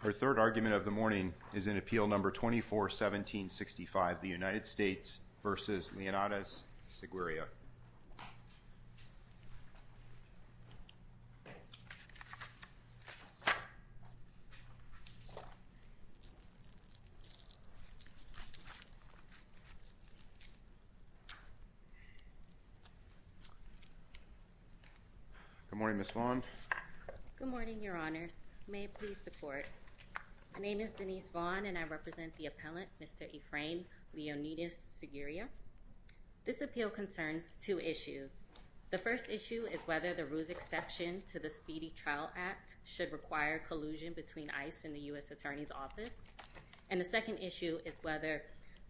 Her third argument of the morning is in Appeal No. 24-1765, the United States v. Leonides-Seguria. Good morning, Ms. Vaughn. Good morning, Your Honors. May it please the Court. My name is Denise Vaughn and I represent the appellant, Mr. Efrain Leonides-Seguria. This appeal concerns two issues. The first issue is whether the ruse exception to the Speedy Trial Act should require collusion between ICE and the U.S. Attorney's Office. And the second issue is whether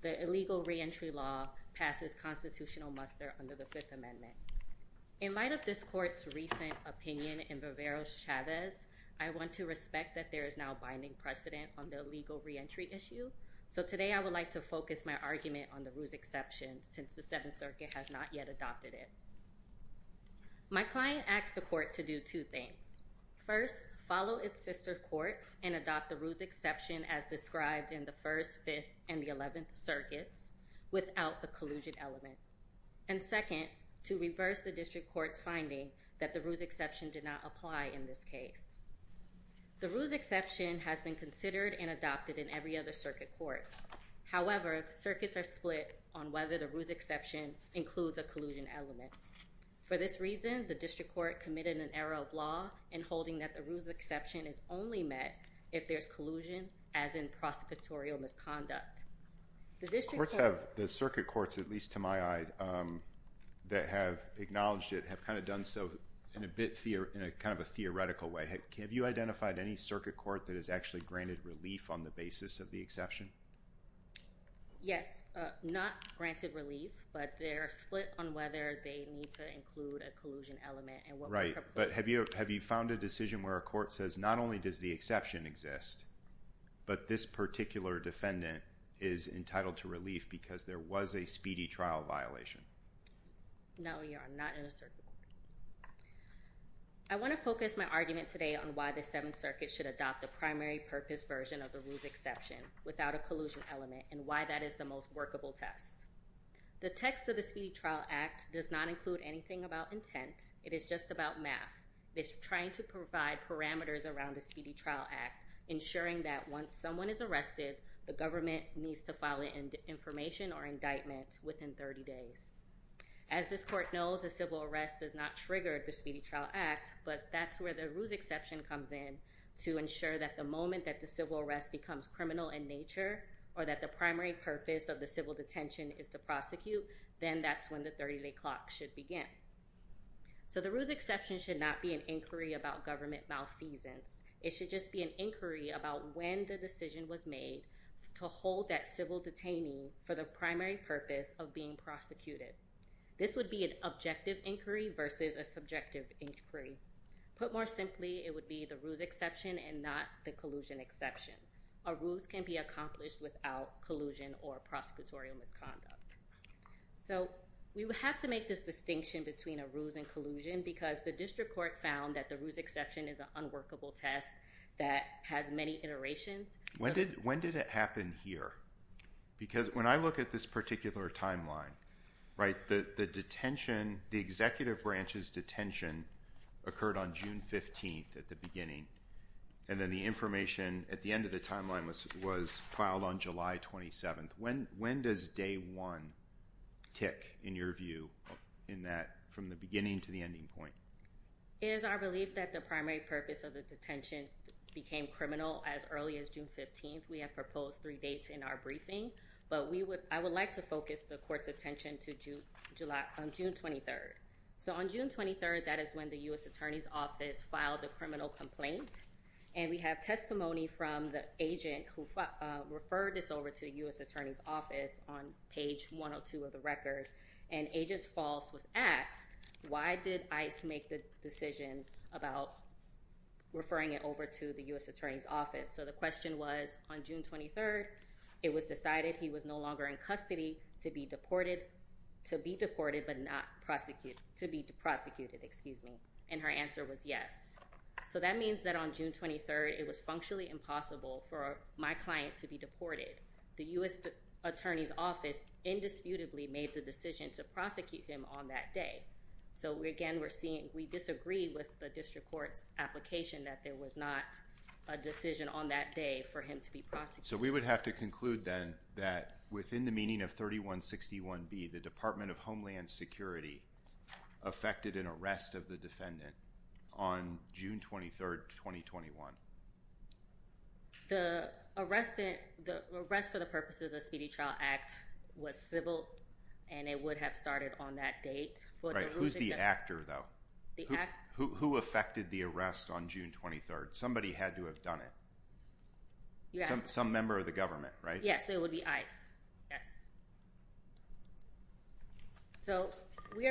the illegal reentry law passes constitutional muster under the Fifth Amendment. In light of this Court's recent opinion in Bavaro's Chavez, I want to respect that there is now binding precedent on the illegal reentry issue. So today I would like to focus my argument on the ruse exception since the Seventh Circuit has not yet adopted it. My client asked the Court to do two things. First, follow its sister courts and adopt the ruse exception as described in the First, Fifth, and the Eleventh Circuits without a collusion element. And second, to reverse the district court's finding that the ruse exception did not apply in this case. The ruse exception has been considered and adopted in every other circuit court. However, circuits are split on whether the ruse exception includes a collusion element. For this reason, the district court committed an error of law in holding that the ruse exception is only met if there's collusion, as in prosecutorial misconduct. The district court... The circuit courts, at least to my eye, that have acknowledged it have kind of done so in a theoretical way. Have you identified any circuit court that has actually granted relief on the basis of the exception? Yes, not granted relief, but they're split on whether they need to include a collusion element and what... Right, but have you found a decision where a court says not only does the exception exist, but this particular defendant is entitled to relief because there was a speedy trial violation? No, Your Honor, not in a circuit court. I want to focus my argument today on why the Seventh Circuit should adopt the primary purpose version of the ruse exception without a collusion element and why that is the most workable test. The text of the Speedy Trial Act does not include anything about intent. It is just about math. It's trying to provide parameters around the Speedy Trial Act, ensuring that once someone is arrested, the government needs to file an information or indictment within 30 days. As this court knows, a civil arrest does not trigger the Speedy Trial Act, but that's where the ruse exception comes in to ensure that the moment that the civil arrest becomes criminal in nature or that the primary purpose of the civil detention is to prosecute, then that's when the 30-day clock should begin. So the ruse exception should not be an inquiry about government malfeasance. It should just be an inquiry about when the decision was made to hold that civil detainee for the primary purpose of being prosecuted. This would be an objective inquiry versus a subjective inquiry. Put more simply, it would be the ruse exception and not the collusion exception. A ruse can be accomplished without collusion or prosecutorial misconduct. So we would have to make this distinction between a ruse and collusion because the district court found that the ruse exception is an unworkable test that has many iterations. When did it happen here? Because when I look at this particular timeline, right, the detention, the executive branch's detention occurred on June 15th at the beginning, and then the information at the end of the timeline was filed on July 27th. When does day one tick in your view in that from the beginning to the ending point? It is our belief that the primary purpose of the detention became criminal as early as June 15th. We have proposed three dates in our briefing, but I would like to focus the court's attention on June 23rd. So on June 23rd, that is when the U.S. Attorney's Office filed the criminal complaint, and we have testimony from the agent who referred this over to the U.S. Attorney's Office on page 102 of the record, and Agent False was asked, why did ICE make the decision about referring it over to the U.S. Attorney's Office? So the question was, on June 23rd, it was decided he was no longer in custody to be deported, to be deported but not prosecuted, to be prosecuted, excuse me. And her answer was yes. So that means that on June 23rd, it was functionally impossible for my client to be deported. The U.S. Attorney's Office indisputably made the decision to prosecute him on that day. So again, we're seeing we disagree with the district court's application that there was not a decision on that day for him to be prosecuted. So we would have to conclude then that within the meaning of 3161B, the Department of Homeland Security affected an arrest of the defendant on June 23rd, 2021. The arrest for the purposes of the Speedy Trial Act was civil, and it would have started on that date. Right, who's the actor though? The actor? Who affected the arrest on June 23rd? Somebody had to have done it. Yes. Some member of the government, right? Yes, it would be ICE, yes. So we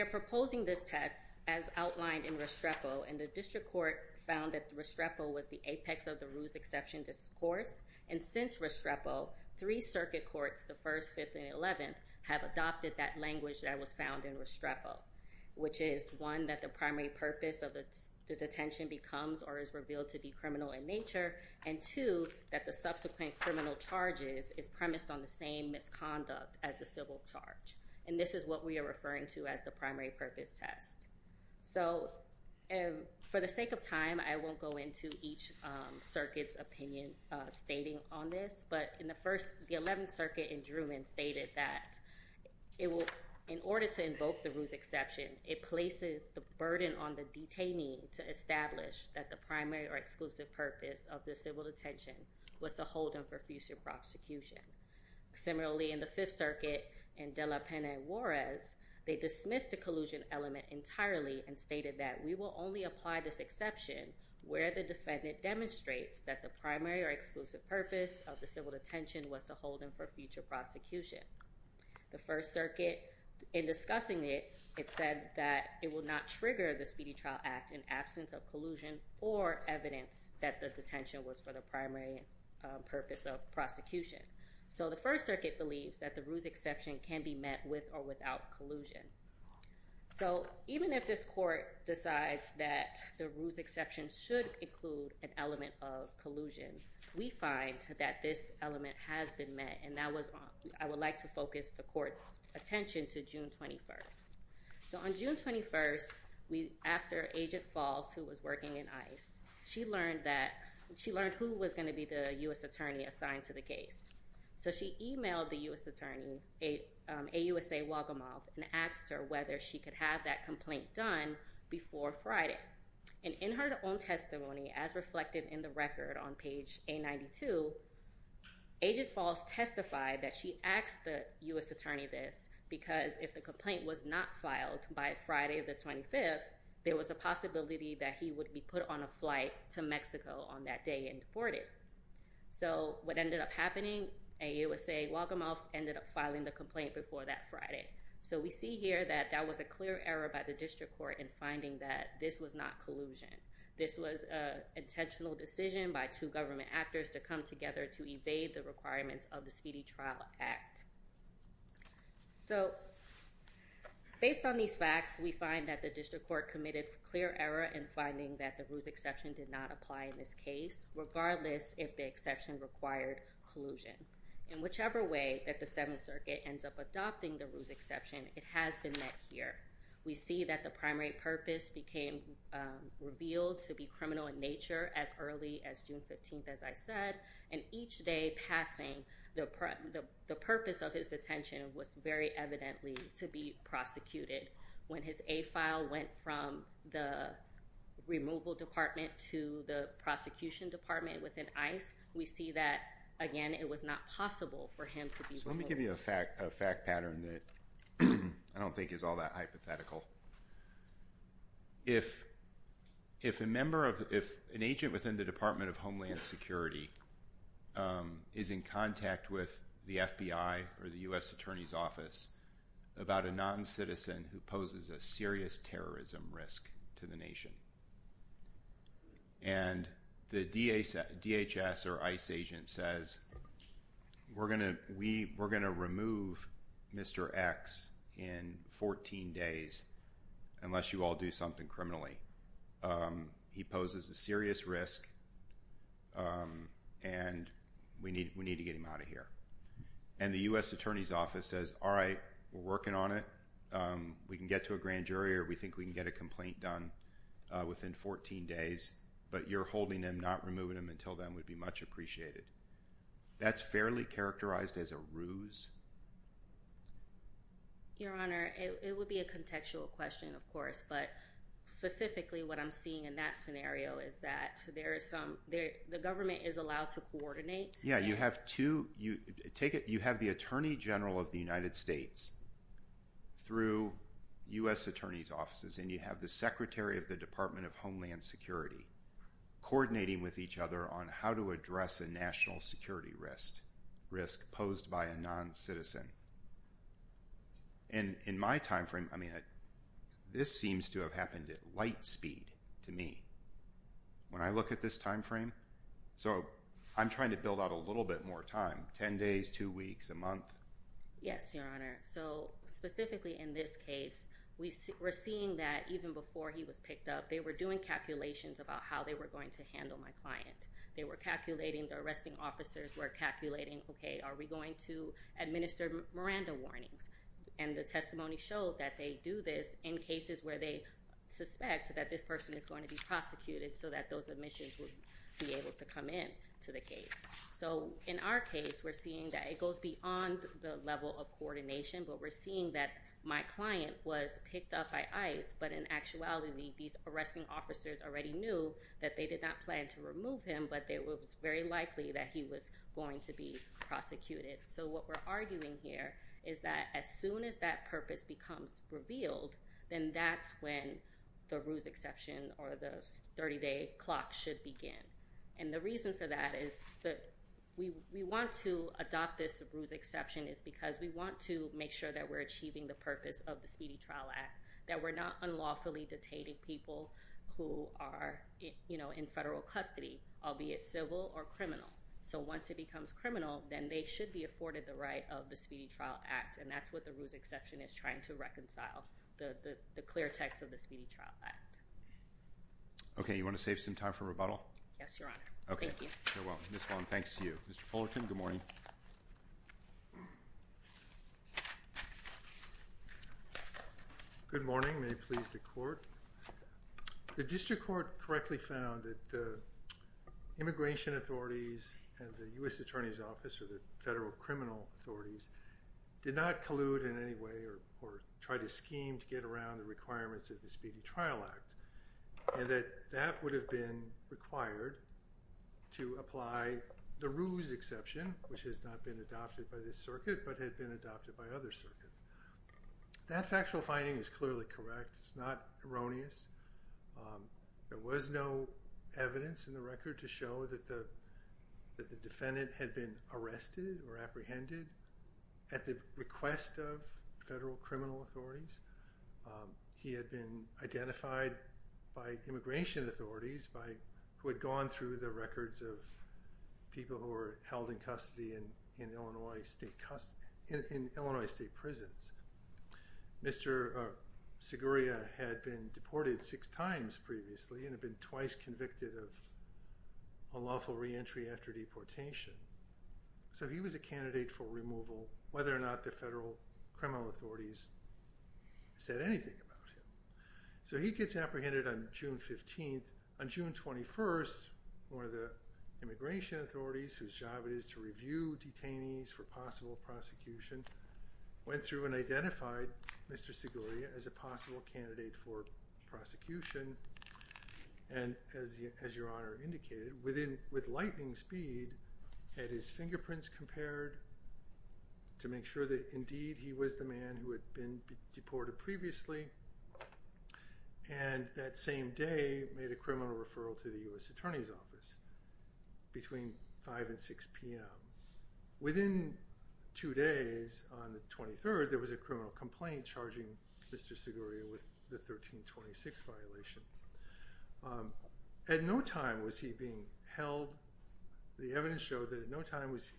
are proposing this test as outlined in Restrepo, and the district court found that Restrepo was the apex of the ruse exception discourse. And since Restrepo, three circuit courts, the 1st, 5th, and 11th, have adopted that language that was found in Restrepo, which is one, that the primary purpose of the detention becomes or is revealed to be criminal in nature, and two, that the subsequent criminal charges is premised on the same misconduct as the civil charge. And this is what we are referring to as the primary purpose test. So for the sake of time, I won't go into each circuit's opinion stating on this, but in the 1st, the 11th circuit in Druin stated that in order to invoke the ruse exception, it places the burden on the detainee to establish that the primary or exclusive purpose of the civil detention was to hold him for future prosecution. Similarly, in the 5th circuit in De La Pena and Juarez, they dismissed the collusion element entirely and stated that we will only apply this exception where the defendant demonstrates that the primary or exclusive purpose of the civil detention was to hold him for future prosecution. The 1st circuit, in discussing it, it said that it will not trigger the Speedy Trial Act in absence of collusion or evidence that the detention was for the primary purpose of prosecution. So the 1st circuit believes that the ruse exception can be met with or without collusion. So even if this court decides that the ruse exception should include an element of collusion, we find that this element has been met and I would like to focus the court's attention to June 21st. So on June 21st, after Agent Falls, who was working in ICE, she learned who was going to be the U.S. attorney assigned to the case. So she emailed the U.S. attorney, AUSA Wagamoth, and asked her whether she could have that complaint done before Friday. And in her own testimony, as reflected in the record on page A92, Agent Falls testified that she asked the U.S. attorney this because if the complaint was not filed by Friday the 25th, there was a possibility that he would be put on a flight to Mexico on that day and deported. So what ended up happening, AUSA Wagamoth ended up filing the complaint before that Friday. So we see here that that was a clear error by the district court in finding that this was not collusion. This was an intentional decision by two government actors to come together to evade the requirements of the Speedy Trial Act. So based on these facts, we find that the district court committed a clear error in finding that the ruse exception did not apply in this case, regardless if the exception required collusion. In whichever way that the Seventh Circuit ends up adopting the ruse exception, it has been met here. We see that the primary purpose became revealed to be criminal in nature as early as June 15th, as I said, and each day passing, the purpose of his detention was very evidently to be prosecuted. When his A file went from the removal department to the prosecution department within ICE, we see that, again, it was not possible for him to be removed. So let me give you a fact pattern that I don't think is all that hypothetical. If an agent within the Department of Homeland Security is in contact with the FBI or the U.S. Attorney's Office about a noncitizen who poses a serious terrorism risk to the nation and the DHS or ICE agent says, we're going to remove Mr. X in 14 days unless you all do something criminally. He poses a serious risk and we need to get him out of here. And the U.S. Attorney's Office says, all right, we're working on it. We can get to a grand jury or we think we can get a complaint done within 14 days. But you're holding him, not removing him until then would be much appreciated. That's fairly characterized as a ruse. Your Honor, it would be a contextual question, of course. But specifically, what I'm seeing in that scenario is that the government is allowed to coordinate. Yeah, you have the Attorney General of the United States through U.S. Attorney's Offices and you have the Secretary of the Department of Homeland Security coordinating with each other on how to address a national security risk posed by a noncitizen. And in my time frame, I mean, this seems to have happened at light speed to me. When I look at this time frame, so I'm trying to build out a little bit more time, 10 days, 2 weeks, a month. Yes, Your Honor. So specifically in this case, we're seeing that even before he was picked up, they were doing calculations about how they were going to handle my client. They were calculating, the arresting officers were calculating, okay, are we going to administer Miranda warnings? And the testimony showed that they do this in cases where they suspect that this person is going to be prosecuted so that those admissions would be able to come in to the case. So in our case, we're seeing that it goes beyond the level of coordination, but we're seeing that my client was picked up by ICE, but in actuality, these arresting officers already knew that they did not plan to remove him, but it was very likely that he was going to be prosecuted. So what we're arguing here is that as soon as that purpose becomes revealed, then that's when the ruse exception or the 30-day clock should begin. And the reason for that is that we want to adopt this ruse exception is because we want to make sure that we're achieving the purpose of the Speedy Trial Act, that we're not unlawfully detaining people who are in federal custody, albeit civil or criminal. So once it becomes criminal, then they should be afforded the right of the Speedy Trial Act, and that's what the ruse exception is trying to reconcile, the clear text of the Speedy Trial Act. Okay, you want to save some time for rebuttal? Yes, Your Honor. Okay. Thank you. You're welcome. Ms. Fong, thanks to you. Mr. Fullerton, good morning. Good morning. May it please the Court. The district court correctly found that the immigration authorities and the U.S. Attorney's Office or the federal criminal authorities did not collude in any way or try to scheme to get around the requirements of the Speedy Trial Act and that that would have been required to apply the ruse exception, which has not been adopted by this circuit but had been adopted by other circuits. That factual finding is clearly correct. It's not erroneous. There was no evidence in the record to show that the defendant had been arrested or apprehended at the request of federal criminal authorities. He had been identified by immigration authorities who had gone through the records of people who were held in custody in Illinois state prisons. Mr. Seguria had been deported six times previously and had been twice convicted of unlawful reentry after deportation. So he was a candidate for removal whether or not the federal criminal authorities said anything about him. So he gets apprehended on June 15th. On June 21st, one of the immigration authorities, whose job it is to review detainees for possible prosecution, went through and identified Mr. Seguria as a possible candidate for prosecution and, as Your Honor indicated, with lightning speed, had his fingerprints compared to make sure that indeed he was the man who had been deported previously and that same day made a criminal referral to the U.S. Attorney's Office between 5 and 6 p.m. Within two days, on the 23rd, there was a criminal complaint charging Mr. Seguria with the 1326 violation. At no time was he being held. The evidence showed that at no time was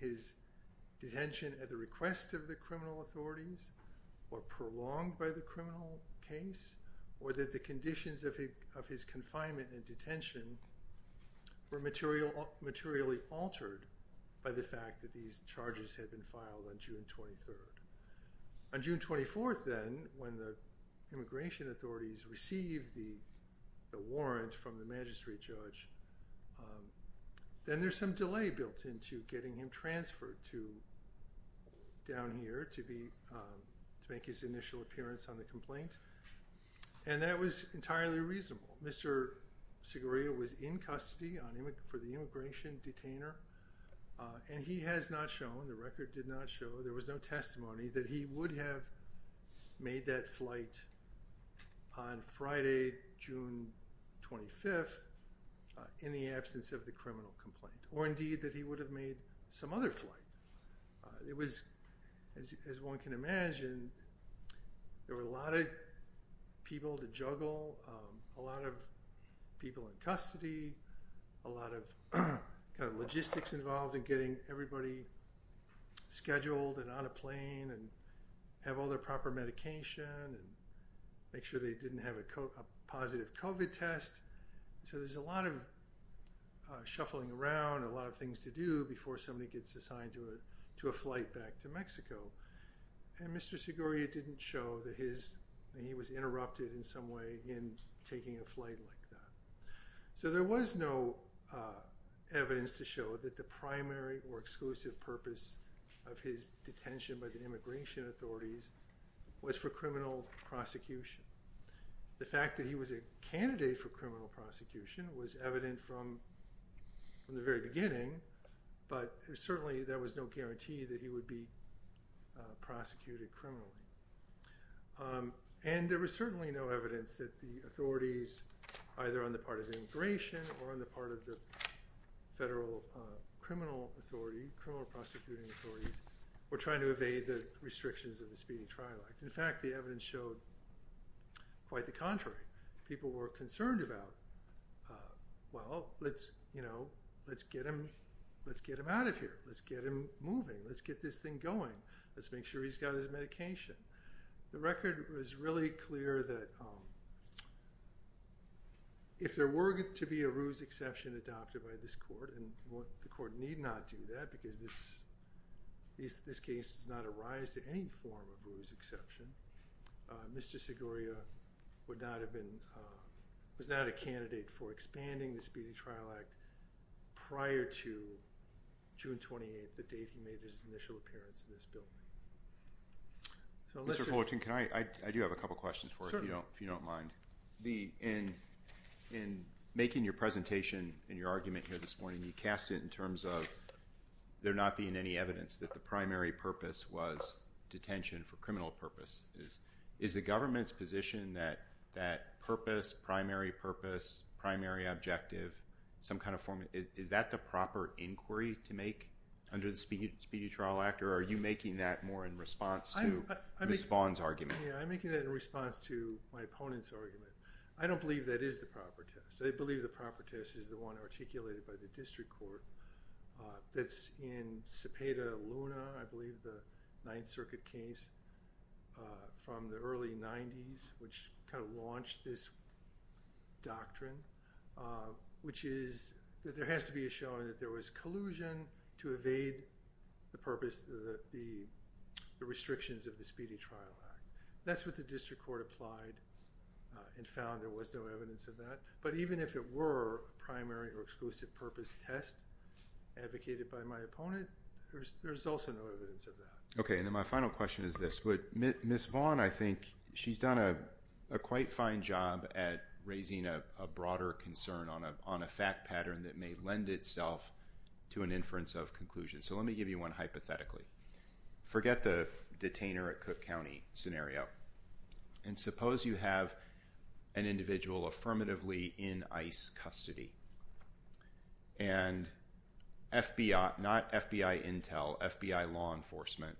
his detention at the request of the criminal authorities or prolonged by the criminal case or that the conditions of his confinement and detention were materially altered by the fact that these charges had been filed on June 23rd. On June 24th, then, when the immigration authorities received the warrant from the magistrate judge, then there's some delay built into getting him transferred down here to make his initial appearance on the complaint. And that was entirely reasonable. Mr. Seguria was in custody for the immigration detainer, and he has not shown, the record did not show, there was no testimony that he would have made that flight on Friday, June 25th, in the absence of the criminal complaint, or indeed that he would have made some other flight. It was, as one can imagine, there were a lot of people to juggle, a lot of people in custody, a lot of logistics involved in getting everybody scheduled and on a plane and have all their proper medication and make sure they didn't have a positive COVID test. So there's a lot of shuffling around, a lot of things to do before somebody gets assigned to a flight back to Mexico. And Mr. Seguria didn't show that he was interrupted in some way in taking a flight like that. So there was no evidence to show that the primary or exclusive purpose of his detention by the immigration authorities was for criminal prosecution. The fact that he was a candidate for criminal prosecution was evident from the very beginning, but certainly there was no guarantee that he would be prosecuted criminally. And there was certainly no evidence that the authorities, either on the part of immigration or on the part of the federal criminal authority, criminal prosecuting authorities, were trying to evade the restrictions of the speeding trial act. In fact, the evidence showed quite the contrary. People were concerned about, well, let's get him out of here, let's get him moving, let's get this thing going, let's make sure he's got his medication. The record was really clear that if there were to be a ruse exception adopted by this court, and the court need not do that because this case does not arise to any form of ruse exception, Mr. Seguria was not a candidate for expanding the speeding trial act prior to June 28th, the date he made his initial appearance in this building. Mr. Fullerton, I do have a couple of questions for you if you don't mind. In making your presentation and your argument here this morning, you cast it in terms of there not being any evidence that the primary purpose was detention for criminal purposes. Is the government's position that purpose, primary purpose, primary objective, some kind of form, is that the proper inquiry to make under the speeding trial act, or are you making that more in response to Ms. Vaughn's argument? I'm making that in response to my opponent's argument. I don't believe that is the proper test. I believe the proper test is the one articulated by the district court that's in Cepeda Luna, I believe the Ninth Circuit case from the early 90s, which kind of launched this doctrine, which is that there has to be a showing that there was collusion to evade the purpose, the restrictions of the speeding trial act. That's what the district court applied and found there was no evidence of that. But even if it were a primary or exclusive purpose test advocated by my opponent, there's also no evidence of that. Okay, and then my final question is this. Ms. Vaughn, I think she's done a quite fine job at raising a broader concern on a fact pattern that may lend itself to an inference of conclusion. So let me give you one hypothetically. Forget the detainer at Cook County scenario, and suppose you have an individual affirmatively in ICE custody, and FBI, not FBI intel, FBI law enforcement,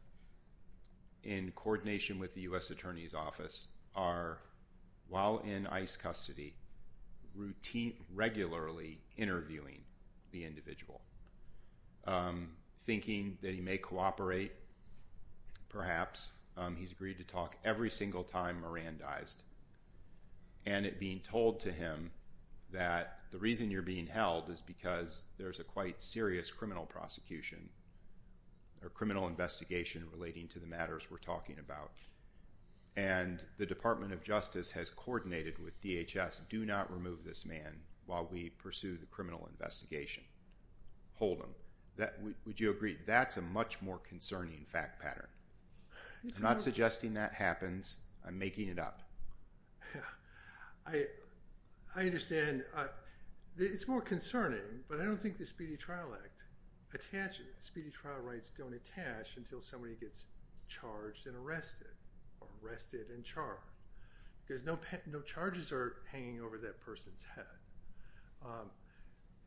in coordination with the U.S. Attorney's Office, are, while in ICE custody, routinely, regularly interviewing the individual, thinking that he may cooperate, perhaps. He's agreed to talk every single time Moran dies. And it being told to him that the reason you're being held is because there's a quite serious criminal prosecution or criminal investigation relating to the matters we're talking about. And the Department of Justice has coordinated with DHS, do not remove this man while we pursue the criminal investigation. Hold him. Would you agree that's a much more concerning fact pattern? I'm not suggesting that happens. I'm making it up. I understand. It's more concerning, but I don't think the Speedy Trial Act attaches it. until somebody gets charged and arrested, or arrested and charged, because no charges are hanging over that person's head.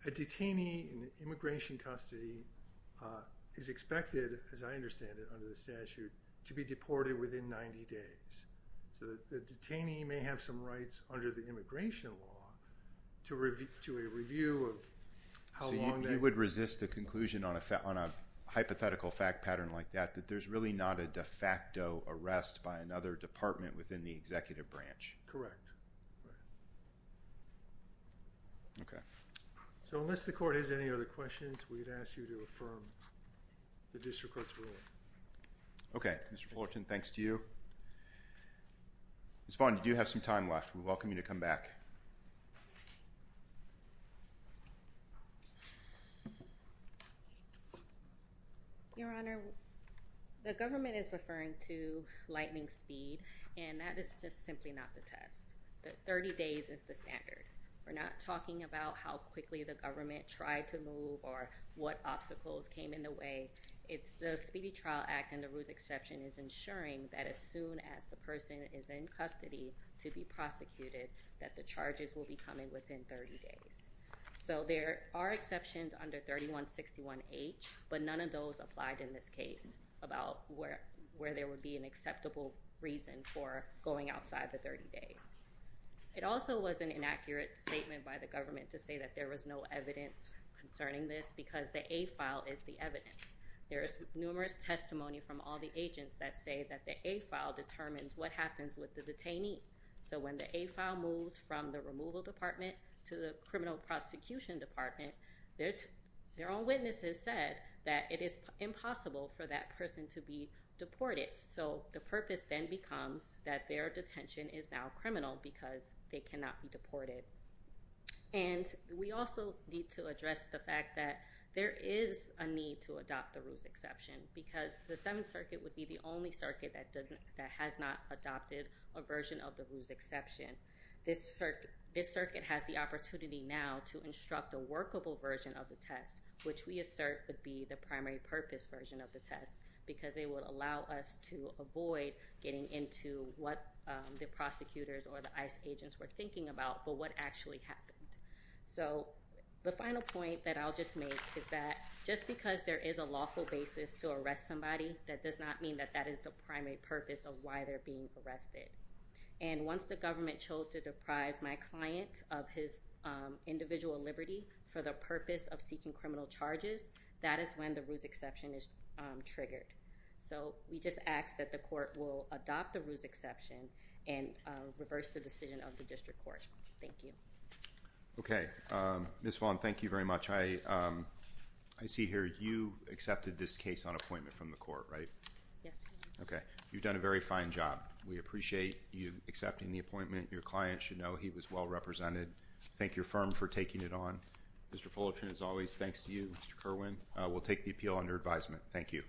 A detainee in immigration custody is expected, as I understand it under the statute, to be deported within 90 days. So the detainee may have some rights under the immigration law to a review of how long that— that there's really not a de facto arrest by another department within the executive branch. Correct. Okay. So unless the court has any other questions, we'd ask you to affirm the district court's rule. Okay. Mr. Fullerton, thanks to you. Ms. Vaughn, you do have some time left. We welcome you to come back. Your Honor, the government is referring to lightning speed, and that is just simply not the test. Thirty days is the standard. We're not talking about how quickly the government tried to move or what obstacles came in the way. It's the Speedy Trial Act and the Roos exception is ensuring that as soon as the person is in custody to be prosecuted, that the charges will be coming within 30 days. So there are exceptions under 3161H, but none of those applied in this case about where— where there would be an acceptable reason for going outside the 30 days. It also was an inaccurate statement by the government to say that there was no evidence concerning this because the A file is the evidence. There is numerous testimony from all the agents that say that the A file determines what happens with the detainee. So when the A file moves from the removal department to the criminal prosecution department, their own witnesses said that it is impossible for that person to be deported. So the purpose then becomes that their detention is now criminal because they cannot be deported. And we also need to address the fact that there is a need to adopt the Roos exception because the Seventh Circuit would be the only circuit that has not adopted a version of the Roos exception. This circuit has the opportunity now to instruct a workable version of the test, which we assert would be the primary purpose version of the test, because it would allow us to avoid getting into what the prosecutors or the ICE agents were thinking about, but what actually happened. So the final point that I'll just make is that just because there is a lawful basis to arrest somebody, that does not mean that that is the primary purpose of why they're being arrested. And once the government chose to deprive my client of his individual liberty for the purpose of seeking criminal charges, that is when the Roos exception is triggered. So we just ask that the court will adopt the Roos exception and reverse the decision of the district court. Thank you. Okay. Ms. Vaughn, thank you very much. I see here you accepted this case on appointment from the court, right? Yes. Okay. You've done a very fine job. We appreciate you accepting the appointment. Your client should know he was well represented. Thank your firm for taking it on. Mr. Fullerton, as always, thanks to you. Mr. Kerwin, we'll take the appeal under advisement. Thank you.